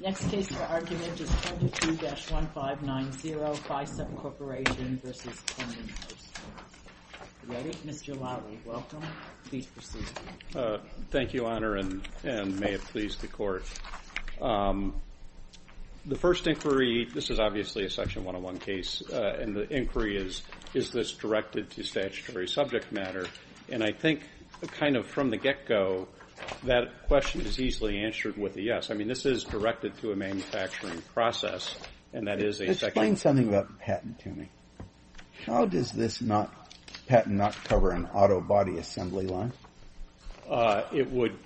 Next case for argument is 22-1590, Ficep Corporation v. Peddinghaus. Ready? Mr. Lally, welcome. Please proceed. Thank you, Honor, and may it please the Court. The first inquiry, this is obviously a Section 101 case, and the inquiry is, is this directed to statutory subject matter? And I think kind of from the get-go, that question is easily answered with a yes. I mean, this is directed to a manufacturing process, and that is a Section 101. Explain something about patent to me. How does this patent not cover an auto body assembly line? It would,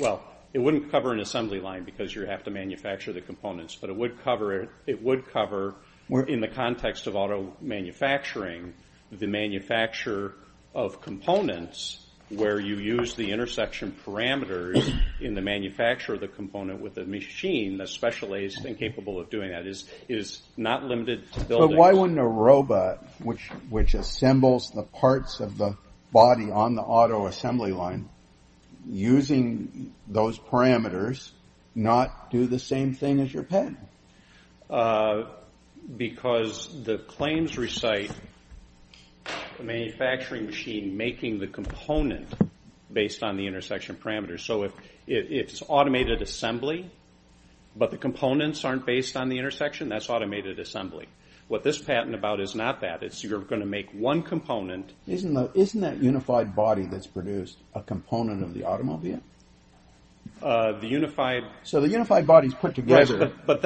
well, it wouldn't cover an assembly line because you have to manufacture the components, but it would cover, in the context of auto manufacturing, the manufacture of components where you use the intersection parameters in the manufacture of the component with a machine that's specialized and capable of doing that. It is not limited to building. But why wouldn't a robot which assembles the parts of the body on the auto assembly line, using those parameters, not do the same thing as your patent? Because the claims recite the manufacturing machine making the component based on the intersection parameters. So if it's automated assembly, but the components aren't based on the intersection, that's automated assembly. What this patent is about is not that. It's you're going to make one component. Isn't that unified body that's produced a component of the automobile? The unified. So the unified body is put together. But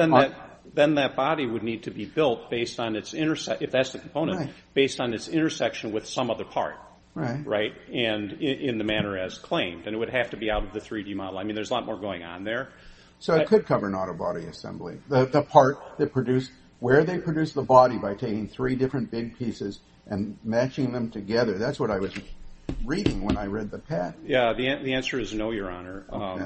then that body would need to be built based on its, if that's the component, based on its intersection with some other part, right, in the manner as claimed. And it would have to be out of the 3D model. I mean, there's a lot more going on there. So it could cover an auto body assembly. The part that produced, where they produced the body by taking three different big pieces and matching them together. That's what I was reading when I read the patent. Yeah, the answer is no, Your Honor,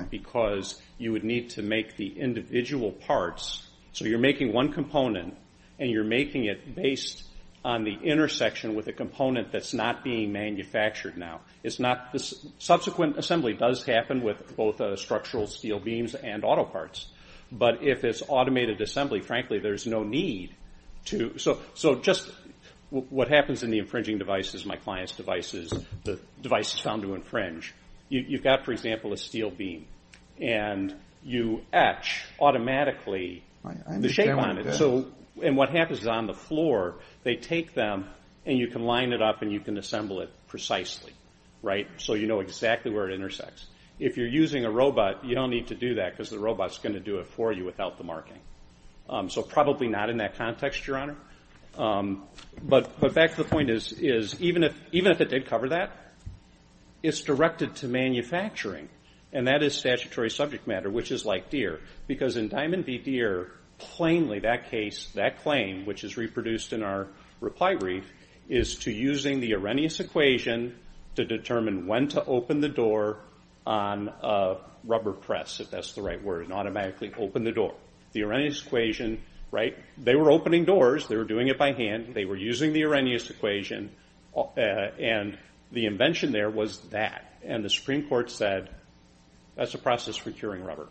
because you would need to make the individual parts. So you're making one component, and you're making it based on the intersection with a component that's not being manufactured now. Subsequent assembly does happen with both structural steel beams and auto parts. But if it's automated assembly, frankly, there's no need to. So just what happens in the infringing devices, my client's devices, the devices found to infringe, you've got, for example, a steel beam, and you etch automatically the shape on it. And what happens is on the floor, they take them, and you can line it up, and you can assemble it precisely, right? So you know exactly where it intersects. If you're using a robot, you don't need to do that, because the robot's going to do it for you without the marking. So probably not in that context, Your Honor. But back to the point is, even if it did cover that, it's directed to manufacturing. And that is statutory subject matter, which is like deer. Because in Diamond v. Deere, plainly that case, that claim, which is reproduced in our reply brief, is to using the Arrhenius equation to determine when to open the door on a rubber press, if that's the right word, and automatically open the door. The Arrhenius equation, right? They were opening doors. They were doing it by hand. They were using the Arrhenius equation. And the invention there was that. And the Supreme Court said, that's a process for curing rubber,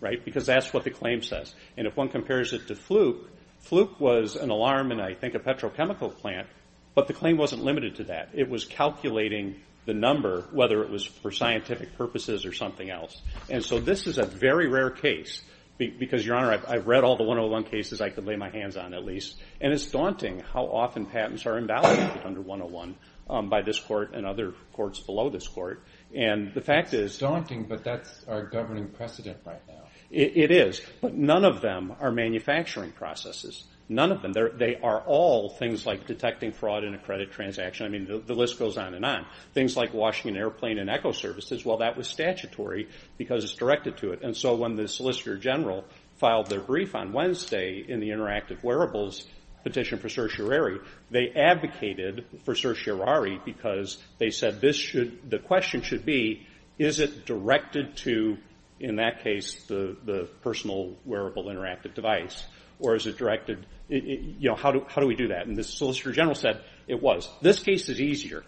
right? Because that's what the claim says. And if one compares it to Fluke, Fluke was an alarm in, I think, a petrochemical plant, but the claim wasn't limited to that. It was calculating the number, whether it was for scientific purposes or something else. And so this is a very rare case, because, Your Honor, I've read all the 101 cases I could lay my hands on, at least. And it's daunting how often patents are invalidated under 101 by this court and other courts below this court. And the fact is. It's daunting, but that's our governing precedent right now. It is. But none of them are manufacturing processes. None of them. They are all things like detecting fraud in a credit transaction. I mean, the list goes on and on. Things like washing an airplane in Echo Services, well, that was statutory because it's directed to it. And so when the Solicitor General filed their brief on Wednesday in the interactive wearables petition for certiorari, they advocated for certiorari because they said the question should be, is it directed to, in that case, the personal wearable interactive device? Or is it directed, you know, how do we do that? And the Solicitor General said it was. This case is easier.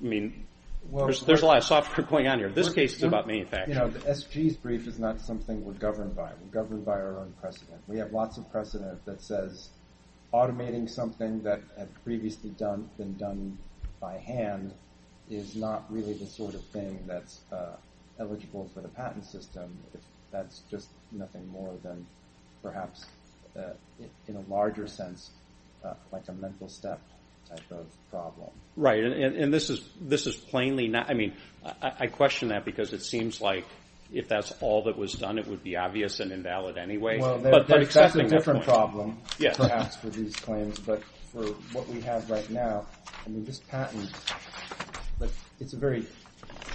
I mean, there's a lot of software going on here. This case is about manufacturing. You know, the SG's brief is not something we're governed by. We're governed by our own precedent. We have lots of precedent that says automating something that had previously been done by hand is not really the sort of thing that's eligible for the patent system. That's just nothing more than perhaps, in a larger sense, like a mental step type of problem. Right. And this is plainly not. I mean, I question that because it seems like if that's all that was done, it would be obvious and invalid anyway. Well, that's a different problem, perhaps, with these claims. But for what we have right now, I mean, this patent, it's a very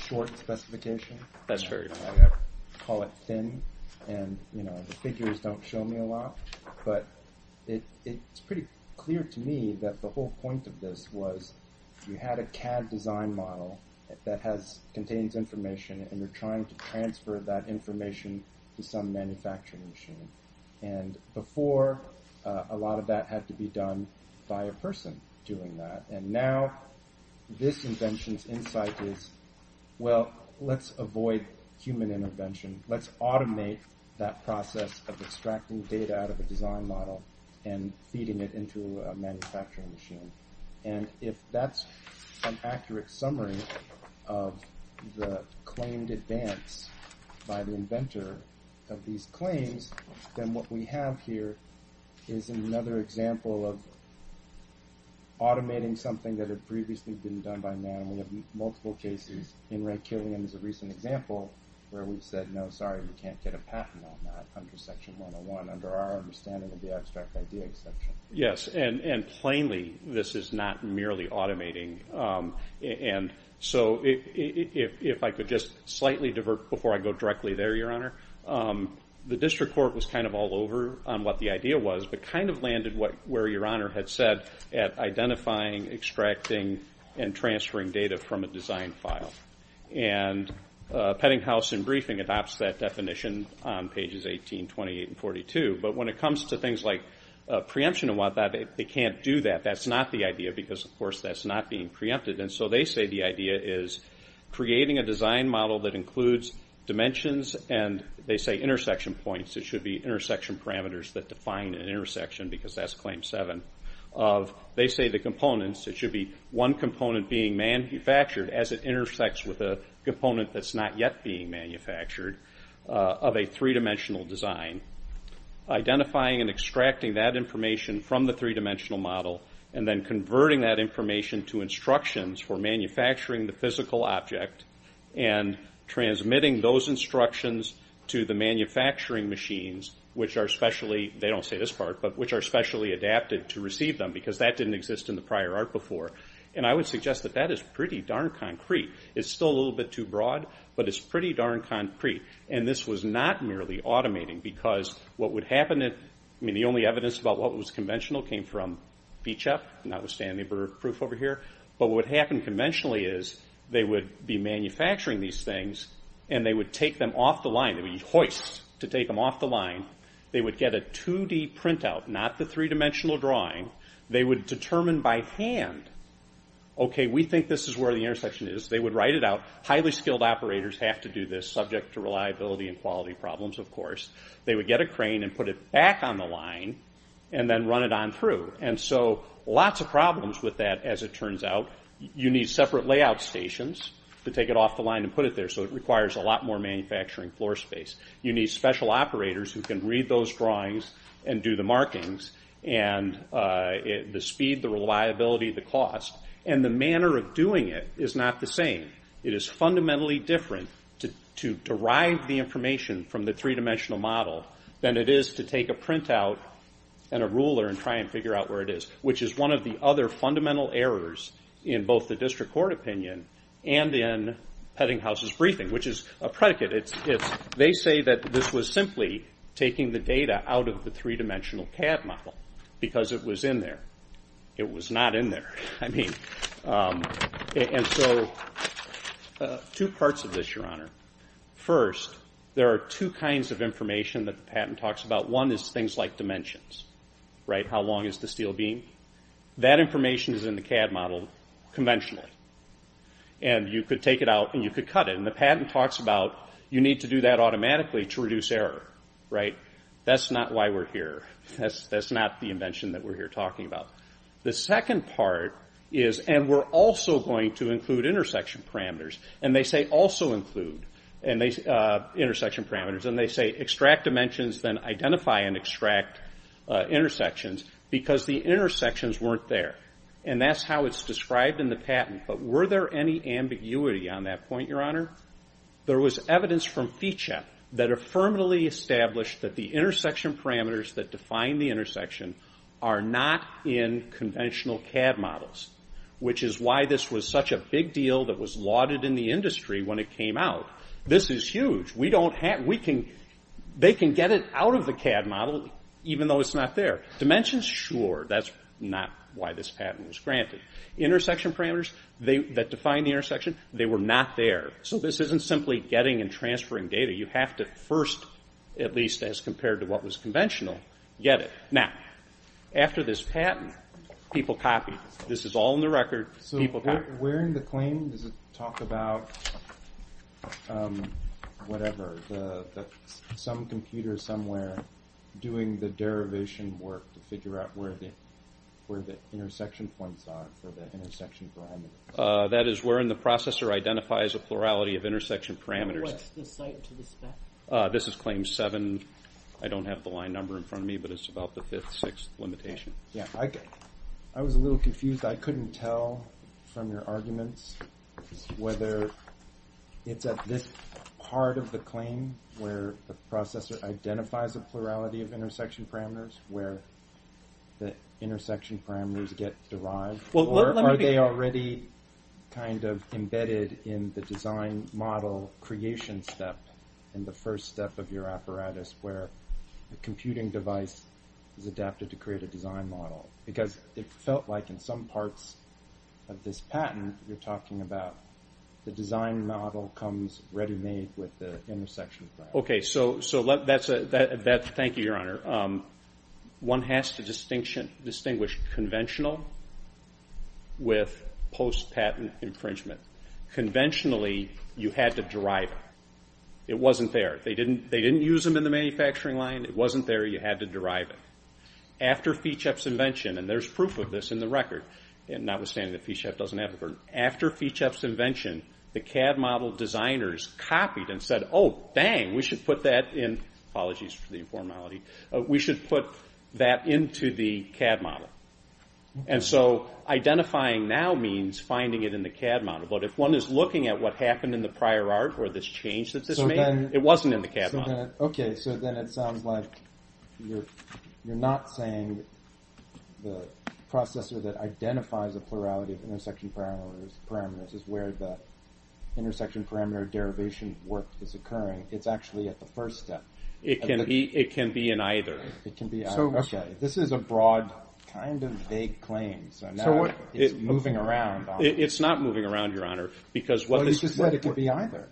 short specification. That's true. I call it thin, and, you know, the figures don't show me a lot. But it's pretty clear to me that the whole point of this was you had a CAD design model that contains information, and you're trying to transfer that information to some manufacturing machine. And before, a lot of that had to be done by a person doing that. And now this invention's insight is, well, let's avoid human intervention. Let's automate that process of extracting data out of a design model and feeding it into a manufacturing machine. And if that's an accurate summary of the claimed advance by the inventor of these claims, then what we have here is another example of automating something that had previously been done by man. And we have multiple cases. In Ray Killian's recent example where we've said, no, sorry, we can't get a patent on that under Section 101. Under our understanding, it would be our abstract idea exception. Yes, and plainly, this is not merely automating. And so if I could just slightly divert before I go directly there, Your Honor, the district court was kind of all over on what the idea was, but kind of landed where Your Honor had said at identifying, extracting, and transferring data from a design file. And Peddinghaus in briefing adopts that definition on pages 18, 28, and 42. But when it comes to things like preemption and whatnot, they can't do that. That's not the idea because, of course, that's not being preempted. And so they say the idea is creating a design model that includes dimensions, and they say intersection points. It should be intersection parameters that define an intersection because that's Claim 7. They say the components, it should be one component being manufactured as it intersects with a component that's not yet being manufactured of a three-dimensional design. Identifying and extracting that information from the three-dimensional model and then converting that information to instructions for manufacturing the physical object and transmitting those instructions to the manufacturing machines, which are specially, they don't say this part, but which are specially adapted to receive them because that didn't exist in the prior art before. And I would suggest that that is pretty darn concrete. It's still a little bit too broad, but it's pretty darn concrete. And this was not merely automating because what would happen, I mean the only evidence about what was conventional came from BCHEF, notwithstanding the proof over here. But what would happen conventionally is they would be manufacturing these things and they would take them off the line. They would use hoists to take them off the line. They would get a 2D printout, not the three-dimensional drawing. They would determine by hand, okay, we think this is where the intersection is. They would write it out. Highly skilled operators have to do this, subject to reliability and quality problems, of course. They would get a crane and put it back on the line and then run it on through. And so lots of problems with that, as it turns out. You need separate layout stations to take it off the line and put it there, so it requires a lot more manufacturing floor space. You need special operators who can read those drawings and do the markings and the speed, the reliability, the cost. And the manner of doing it is not the same. It is fundamentally different to derive the information from the three-dimensional model than it is to take a printout and a ruler and try and figure out where it is, which is one of the other fundamental errors in both the district court opinion and in Peddinghaus' briefing, which is a predicate. They say that this was simply taking the data out of the three-dimensional CAD model because it was in there. It was not in there. And so two parts of this, Your Honor. First, there are two kinds of information that the patent talks about. One is things like dimensions. How long is the steel beam? That information is in the CAD model conventionally. And you could take it out and you could cut it. And the patent talks about you need to do that automatically to reduce error. That's not why we're here. That's not the invention that we're here talking about. The second part is, and we're also going to include intersection parameters, and they say also include intersection parameters. And they say extract dimensions, then identify and extract intersections because the intersections weren't there. And that's how it's described in the patent. But were there any ambiguity on that point, Your Honor? There was evidence from FECHA that affirmatively established that the intersection parameters that define the intersection are not in conventional CAD models, which is why this was such a big deal that was lauded in the industry when it came out. This is huge. They can get it out of the CAD model even though it's not there. Dimensions, sure, that's not why this patent was granted. Intersection parameters that define the intersection, they were not there. So this isn't simply getting and transferring data. You have to first, at least as compared to what was conventional, get it. Now, after this patent, people copied. This is all in the record. So where in the claim does it talk about whatever, some computer somewhere doing the derivation work to figure out where the intersection points are for the intersection parameters? That is where in the processor identifies a plurality of intersection parameters. What's the site to the spec? This is claim 7. I don't have the line number in front of me, but it's about the fifth, sixth limitation. I was a little confused. I couldn't tell from your arguments whether it's at this part of the claim where the processor identifies a plurality of intersection parameters where the intersection parameters get derived, or are they already kind of embedded in the design model creation step in the first step of your apparatus where the computing device is adapted to create a design model? Because it felt like in some parts of this patent you're talking about the design model comes ready-made with the intersection. Okay, so thank you, Your Honor. One has to distinguish conventional with post-patent infringement. Conventionally, you had to derive it. It wasn't there. They didn't use them in the manufacturing line. It wasn't there. You had to derive it. After Fichep's invention, and there's proof of this in the record, notwithstanding that Fichep doesn't have it, after Fichep's invention, the CAD model designers copied and said, oh, dang, we should put that in. Apologies for the informality. We should put that into the CAD model. And so identifying now means finding it in the CAD model. But if one is looking at what happened in the prior art or this change that this made, it wasn't in the CAD model. Okay, so then it sounds like you're not saying the processor that identifies the plurality of intersection parameters is where the intersection parameter derivation work is occurring. It's actually at the first step. It can be in either. It can be either. Okay, this is a broad kind of vague claim. So now it's moving around. It's not moving around, Your Honor. But you said it could be either.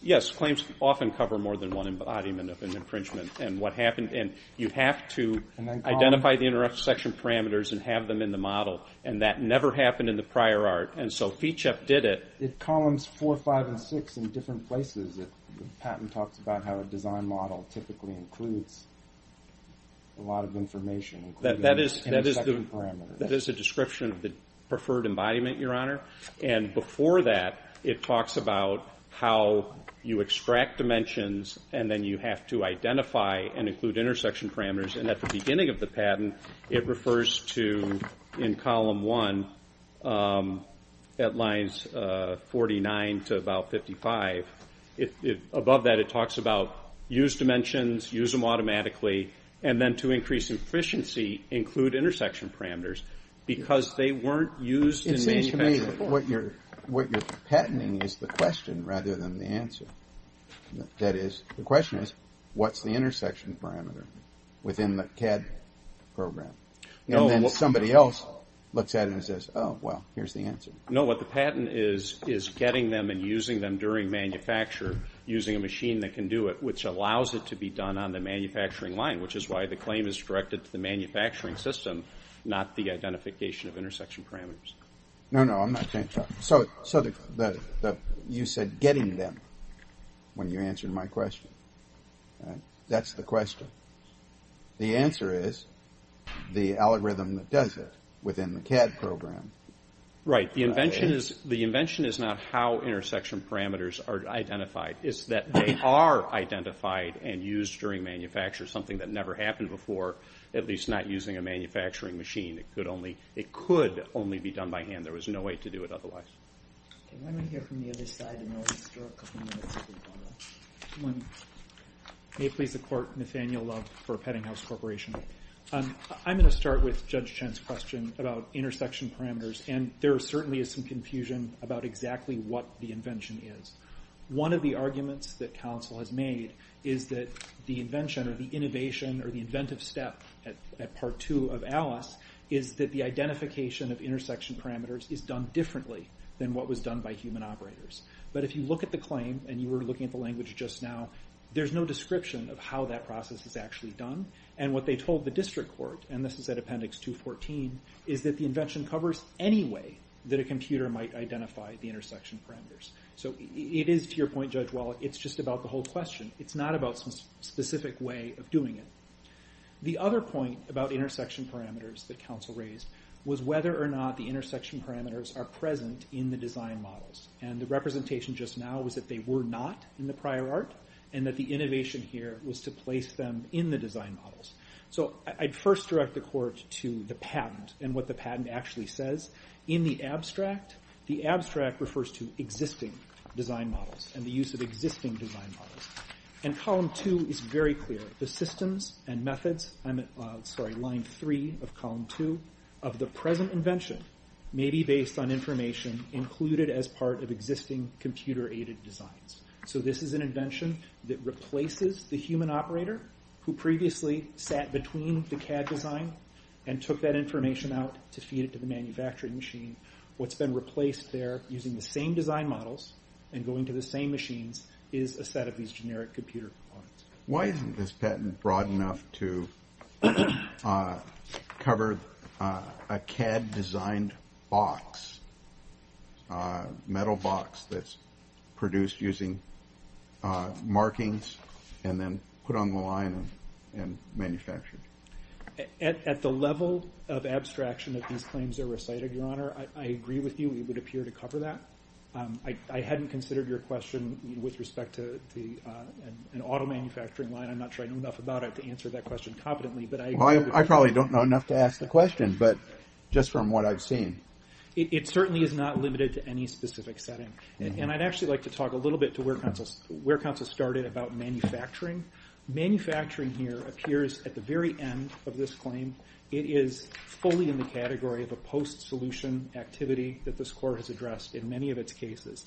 Yes, claims often cover more than one embodiment of an impringement and you have to identify the intersection parameters and have them in the model, and that never happened in the prior art. And so Fichep did it. It columns 4, 5, and 6 in different places. The patent talks about how a design model typically includes a lot of information, including intersection parameters. That is a description of the preferred embodiment, Your Honor. And before that, it talks about how you extract dimensions and then you have to identify and include intersection parameters. And at the beginning of the patent, it refers to, in column 1, at lines 49 to about 55. Above that, it talks about use dimensions, use them automatically, and then to increase efficiency, include intersection parameters because they weren't used in manufacturing before. It seems to me that what you're patenting is the question rather than the answer. That is, the question is, what's the intersection parameter within the CAD program? And then somebody else looks at it and says, oh, well, here's the answer. No, what the patent is, is getting them and using them during manufacture, using a machine that can do it, which allows it to be done on the manufacturing line, which is why the claim is directed to the manufacturing system, not the identification of intersection parameters. No, no, I'm not saying that. So you said getting them when you answered my question. That's the question. The answer is the algorithm that does it within the CAD program. Right. The invention is not how intersection parameters are identified. It's that they are identified and used during manufacture, something that never happened before, at least not using a manufacturing machine. It could only be done by hand. There was no way to do it otherwise. Okay, why don't we hear from the other side and then we'll go through a couple more minutes. May it please the Court, Nathaniel Love for Peddinghaus Corporation. I'm going to start with Judge Chen's question about intersection parameters, and there certainly is some confusion about exactly what the invention is. One of the arguments that counsel has made is that the invention or the innovation or the inventive step at Part 2 of ALICE is that the identification of intersection parameters is done differently than what was done by human operators. But if you look at the claim, and you were looking at the language just now, there's no description of how that process is actually done. And what they told the district court, and this is at Appendix 214, is that the invention covers any way that a computer might identify the intersection parameters. So it is, to your point, Judge Wallach, it's just about the whole question. It's not about some specific way of doing it. The other point about intersection parameters that counsel raised was whether or not the intersection parameters are present in the design models. And the representation just now was that they were not in the prior art, and that the innovation here was to place them in the design models. So I'd first direct the court to the patent and what the patent actually says. In the abstract, the abstract refers to existing design models and the use of existing design models. And Column 2 is very clear. The systems and methods, I'm sorry, Line 3 of Column 2, of the present invention may be based on information included as part of existing computer-aided designs. So this is an invention that replaces the human operator who previously sat between the CAD design and took that information out to feed it to the manufacturing machine. What's been replaced there using the same design models and going to the same machines is a set of these generic computer components. Why isn't this patent broad enough to cover a CAD-designed box, a metal box that's produced using markings and then put on the line and manufactured? At the level of abstraction that these claims are recited, Your Honor, I agree with you we would appear to cover that. I hadn't considered your question with respect to an auto manufacturing line. I'm not sure I know enough about it to answer that question competently. Well, I probably don't know enough to ask the question, but just from what I've seen. It certainly is not limited to any specific setting. And I'd actually like to talk a little bit to where counsel started about manufacturing. Manufacturing here appears at the very end of this claim. It is fully in the category of a post-solution activity that this court has addressed in many of its cases.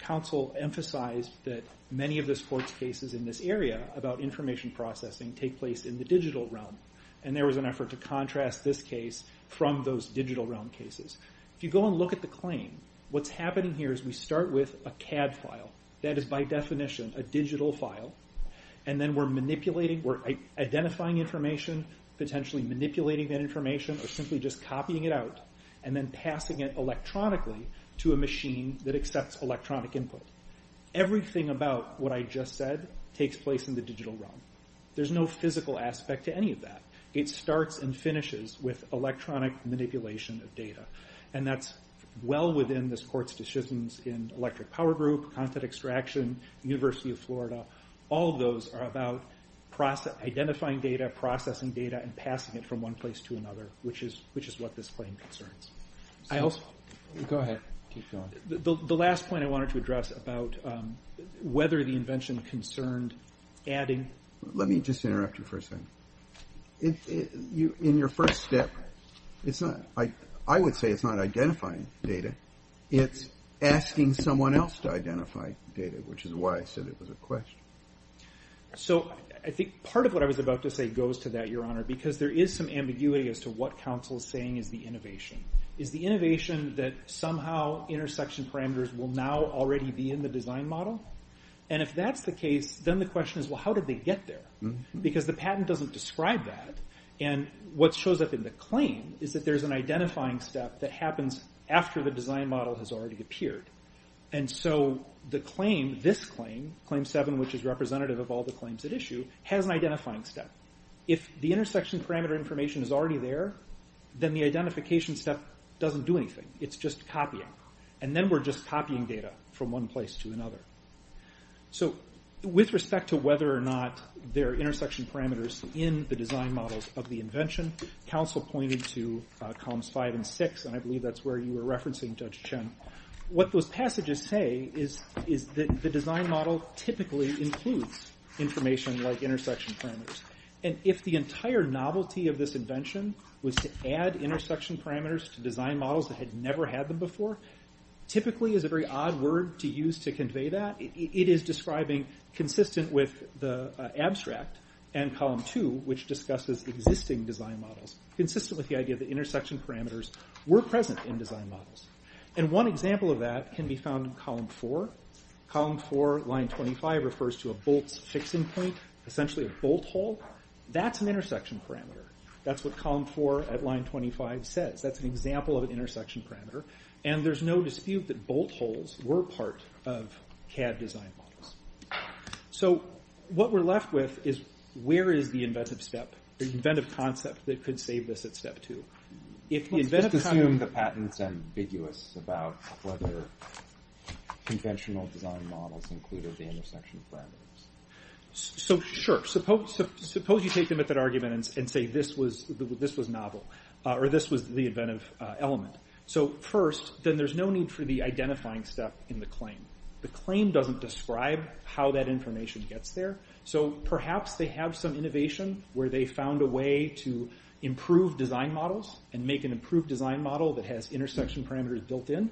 Counsel emphasized that many of this court's cases in this area about information processing take place in the digital realm, and there was an effort to contrast this case from those digital realm cases. If you go and look at the claim, what's happening here is we start with a CAD file. That is, by definition, a digital file. And then we're identifying information, potentially manipulating that information or simply just copying it out and then passing it electronically to a machine that accepts electronic input. Everything about what I just said takes place in the digital realm. There's no physical aspect to any of that. It starts and finishes with electronic manipulation of data. And that's well within this court's decisions in electric power group, content extraction, University of Florida. All of those are about identifying data, processing data, and passing it from one place to another, which is what this claim concerns. Go ahead. Keep going. The last point I wanted to address about whether the invention concerned adding. Let me just interrupt you for a second. In your first step, I would say it's not identifying data. It's asking someone else to identify data, which is why I said it was a question. I think part of what I was about to say goes to that, Your Honor, because there is some ambiguity as to what counsel is saying is the innovation. Is the innovation that somehow intersection parameters will now already be in the design model? And if that's the case, then the question is, well, how did they get there? Because the patent doesn't describe that. And what shows up in the claim is that there's an identifying step that happens after the design model has already appeared. And so this claim, Claim 7, which is representative of all the claims at issue, has an identifying step. If the intersection parameter information is already there, then the identification step doesn't do anything. It's just copying. And then we're just copying data from one place to another. So with respect to whether or not there are intersection parameters in the design models of the invention, counsel pointed to Columns 5 and 6, and I believe that's where you were referencing, Judge Chen. What those passages say is that the design model typically includes information like intersection parameters. And if the entire novelty of this invention was to add intersection parameters to design models that had never had them before, typically is a very odd word to use to convey that. It is describing, consistent with the abstract and Column 2, which discusses existing design models, consistent with the idea that intersection parameters were present in design models. And one example of that can be found in Column 4. Column 4, Line 25, refers to a bolt's fixing point, essentially a bolt hole. That's an intersection parameter. That's what Column 4 at Line 25 says. That's an example of an intersection parameter. And there's no dispute that bolt holes were part of CAD design models. So what we're left with is where is the inventive step, the inventive concept that could save this at Step 2? Let's just assume the patent's ambiguous about whether conventional design models included the intersection parameters. So sure, suppose you take the method argument and say this was novel, or this was the inventive element. So first, then there's no need for the identifying step in the claim. The claim doesn't describe how that information gets there. So perhaps they have some innovation where they found a way to improve design models and make an improved design model that has intersection parameters built in.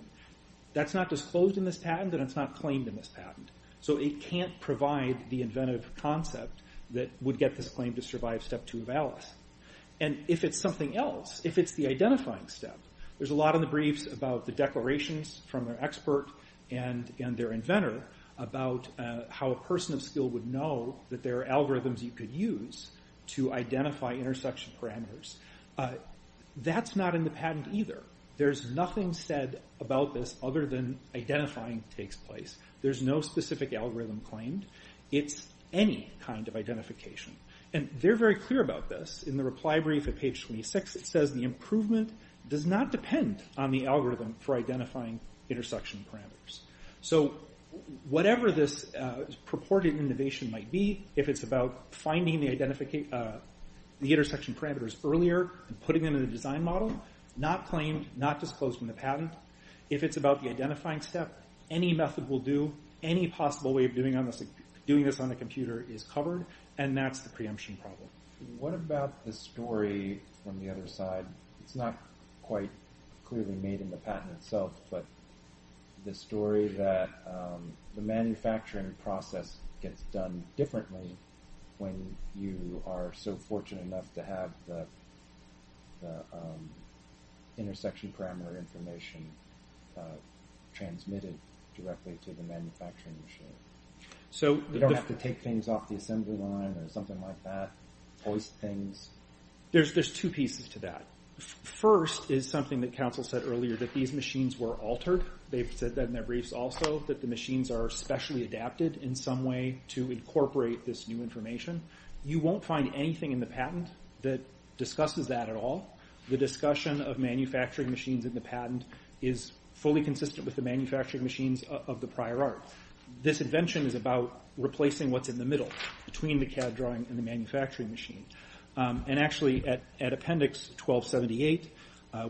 That's not disclosed in this patent, and it's not claimed in this patent. So it can't provide the inventive concept that would get this claim to survive Step 2 of ALICE. And if it's something else, if it's the identifying step, there's a lot in the briefs about the declarations from their expert and their inventor about how a person of skill would know that there are algorithms you could use to identify intersection parameters. That's not in the patent either. There's nothing said about this other than identifying takes place. There's no specific algorithm claimed. It's any kind of identification. And they're very clear about this. In the reply brief at page 26, it says the improvement does not depend on the algorithm for identifying intersection parameters. So whatever this purported innovation might be, if it's about finding the intersection parameters earlier and putting them in a design model, not claimed, not disclosed in the patent. If it's about the identifying step, any method will do. Any possible way of doing this on a computer is covered, and that's the preemption problem. What about the story from the other side? It's not quite clearly made in the patent itself, but the story that the manufacturing process gets done differently when you are so fortunate enough to have the intersection parameter information transmitted directly to the manufacturing machine. You don't have to take things off the assembly line or something like that, hoist things. There's two pieces to that. First is something that counsel said earlier, that these machines were altered. They've said that in their briefs also, that the machines are specially adapted in some way to incorporate this new information. You won't find anything in the patent that discusses that at all. The discussion of manufacturing machines in the patent is fully consistent with the manufacturing machines of the prior art. This invention is about replacing what's in the middle between the CAD drawing and the manufacturing machine. Actually, at appendix 1278,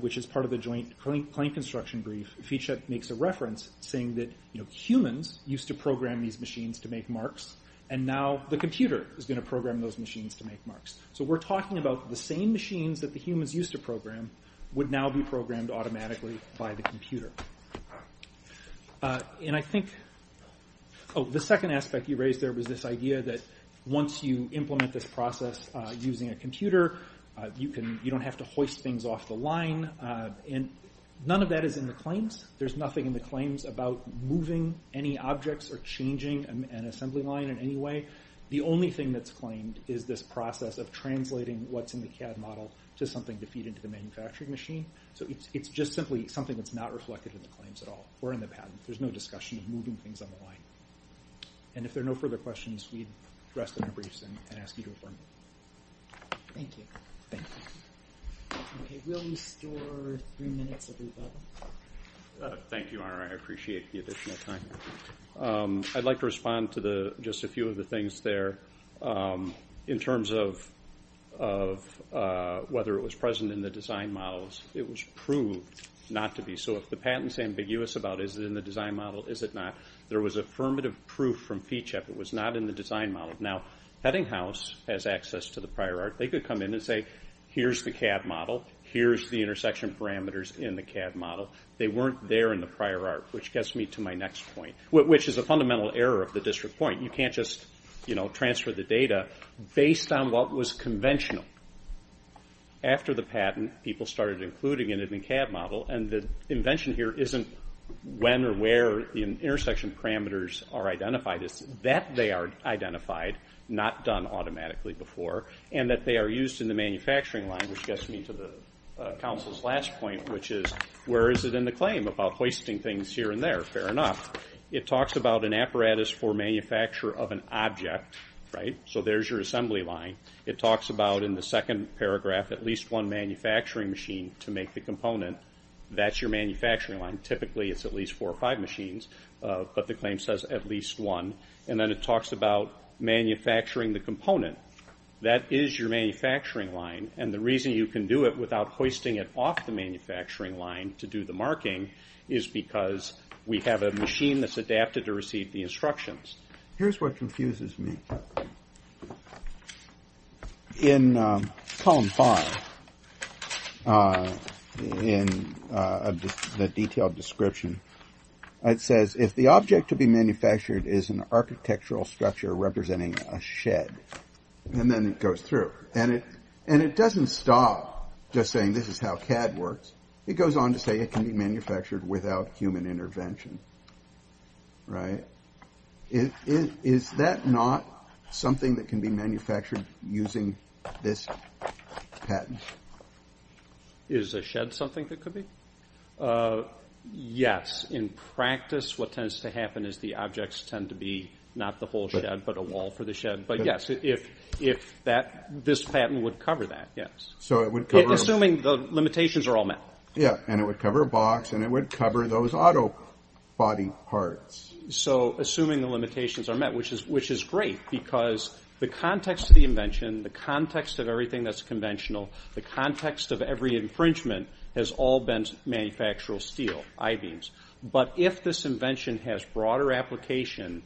which is part of the Joint Claim Construction Brief, Fichet makes a reference saying that humans used to program these machines to make marks, and now the computer is going to program those machines to make marks. We're talking about the same machines that the humans used to program would now be programmed automatically by the computer. The second aspect he raised there was this idea that once you implement this process using a computer, you don't have to hoist things off the line. None of that is in the claims. There's nothing in the claims about moving any objects or changing an assembly line in any way. The only thing that's claimed is this process of translating what's in the CAD model to something to feed into the manufacturing machine. So it's just simply something that's not reflected in the claims at all or in the patent. There's no discussion of moving things on the line. And if there are no further questions, we'd rest in our briefs and ask you to affirm. Thank you. Thank you. Okay, we'll restore three minutes of your time. Thank you, Honor. I appreciate the additional time. I'd like to respond to just a few of the things there. In terms of whether it was present in the design models, it was proved not to be. So if the patent is ambiguous about is it in the design model, is it not, there was affirmative proof from PCHEP it was not in the design model. Now, Peddinghaus has access to the prior art. They could come in and say, here's the CAD model. Here's the intersection parameters in the CAD model. They weren't there in the prior art, which gets me to my next point, which is a fundamental error of the district point. You can't just transfer the data based on what was conventional. After the patent, people started including it in the CAD model, and the invention here isn't when or where the intersection parameters are identified. It's that they are identified, not done automatically before, and that they are used in the manufacturing line, which gets me to the Council's last point, which is where is it in the claim about hoisting things here and there? Fair enough. It talks about an apparatus for manufacture of an object, right? So there's your assembly line. It talks about in the second paragraph at least one manufacturing machine to make the component. That's your manufacturing line. Typically it's at least four or five machines, but the claim says at least one. And then it talks about manufacturing the component. That is your manufacturing line, and the reason you can do it without hoisting it to do the marking is because we have a machine that's adapted to receive the instructions. Here's what confuses me. In column five, in the detailed description, it says, if the object to be manufactured is an architectural structure representing a shed, and then it goes through. And it doesn't stop just saying this is how CAD works. It goes on to say it can be manufactured without human intervention, right? Is that not something that can be manufactured using this patent? Is a shed something that could be? Yes. In practice what tends to happen is the objects tend to be not the whole shed but a wall for the shed. But yes, if this patent would cover that, yes. Assuming the limitations are all met. Yeah, and it would cover a box, and it would cover those auto body parts. So assuming the limitations are met, which is great, because the context of the invention, the context of everything that's conventional, the context of every infringement has all been manufactural steel, I-beams. But if this invention has broader application,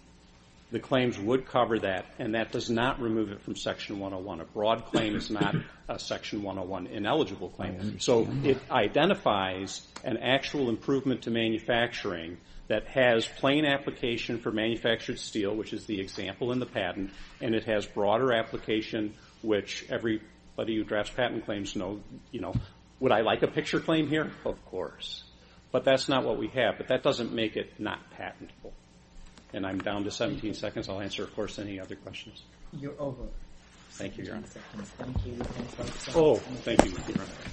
the claims would cover that, and that does not remove it from Section 101. A broad claim is not a Section 101 ineligible claim. So it identifies an actual improvement to manufacturing that has plain application for manufactured steel, which is the example in the patent, and it has broader application which everybody who drafts patent claims know. Would I like a picture claim here? Of course. But that's not what we have. But that doesn't make it not patentable. And I'm down to 17 seconds. I'll answer, of course, any other questions. You're over. Thank you, Your Honor. Oh, thank you.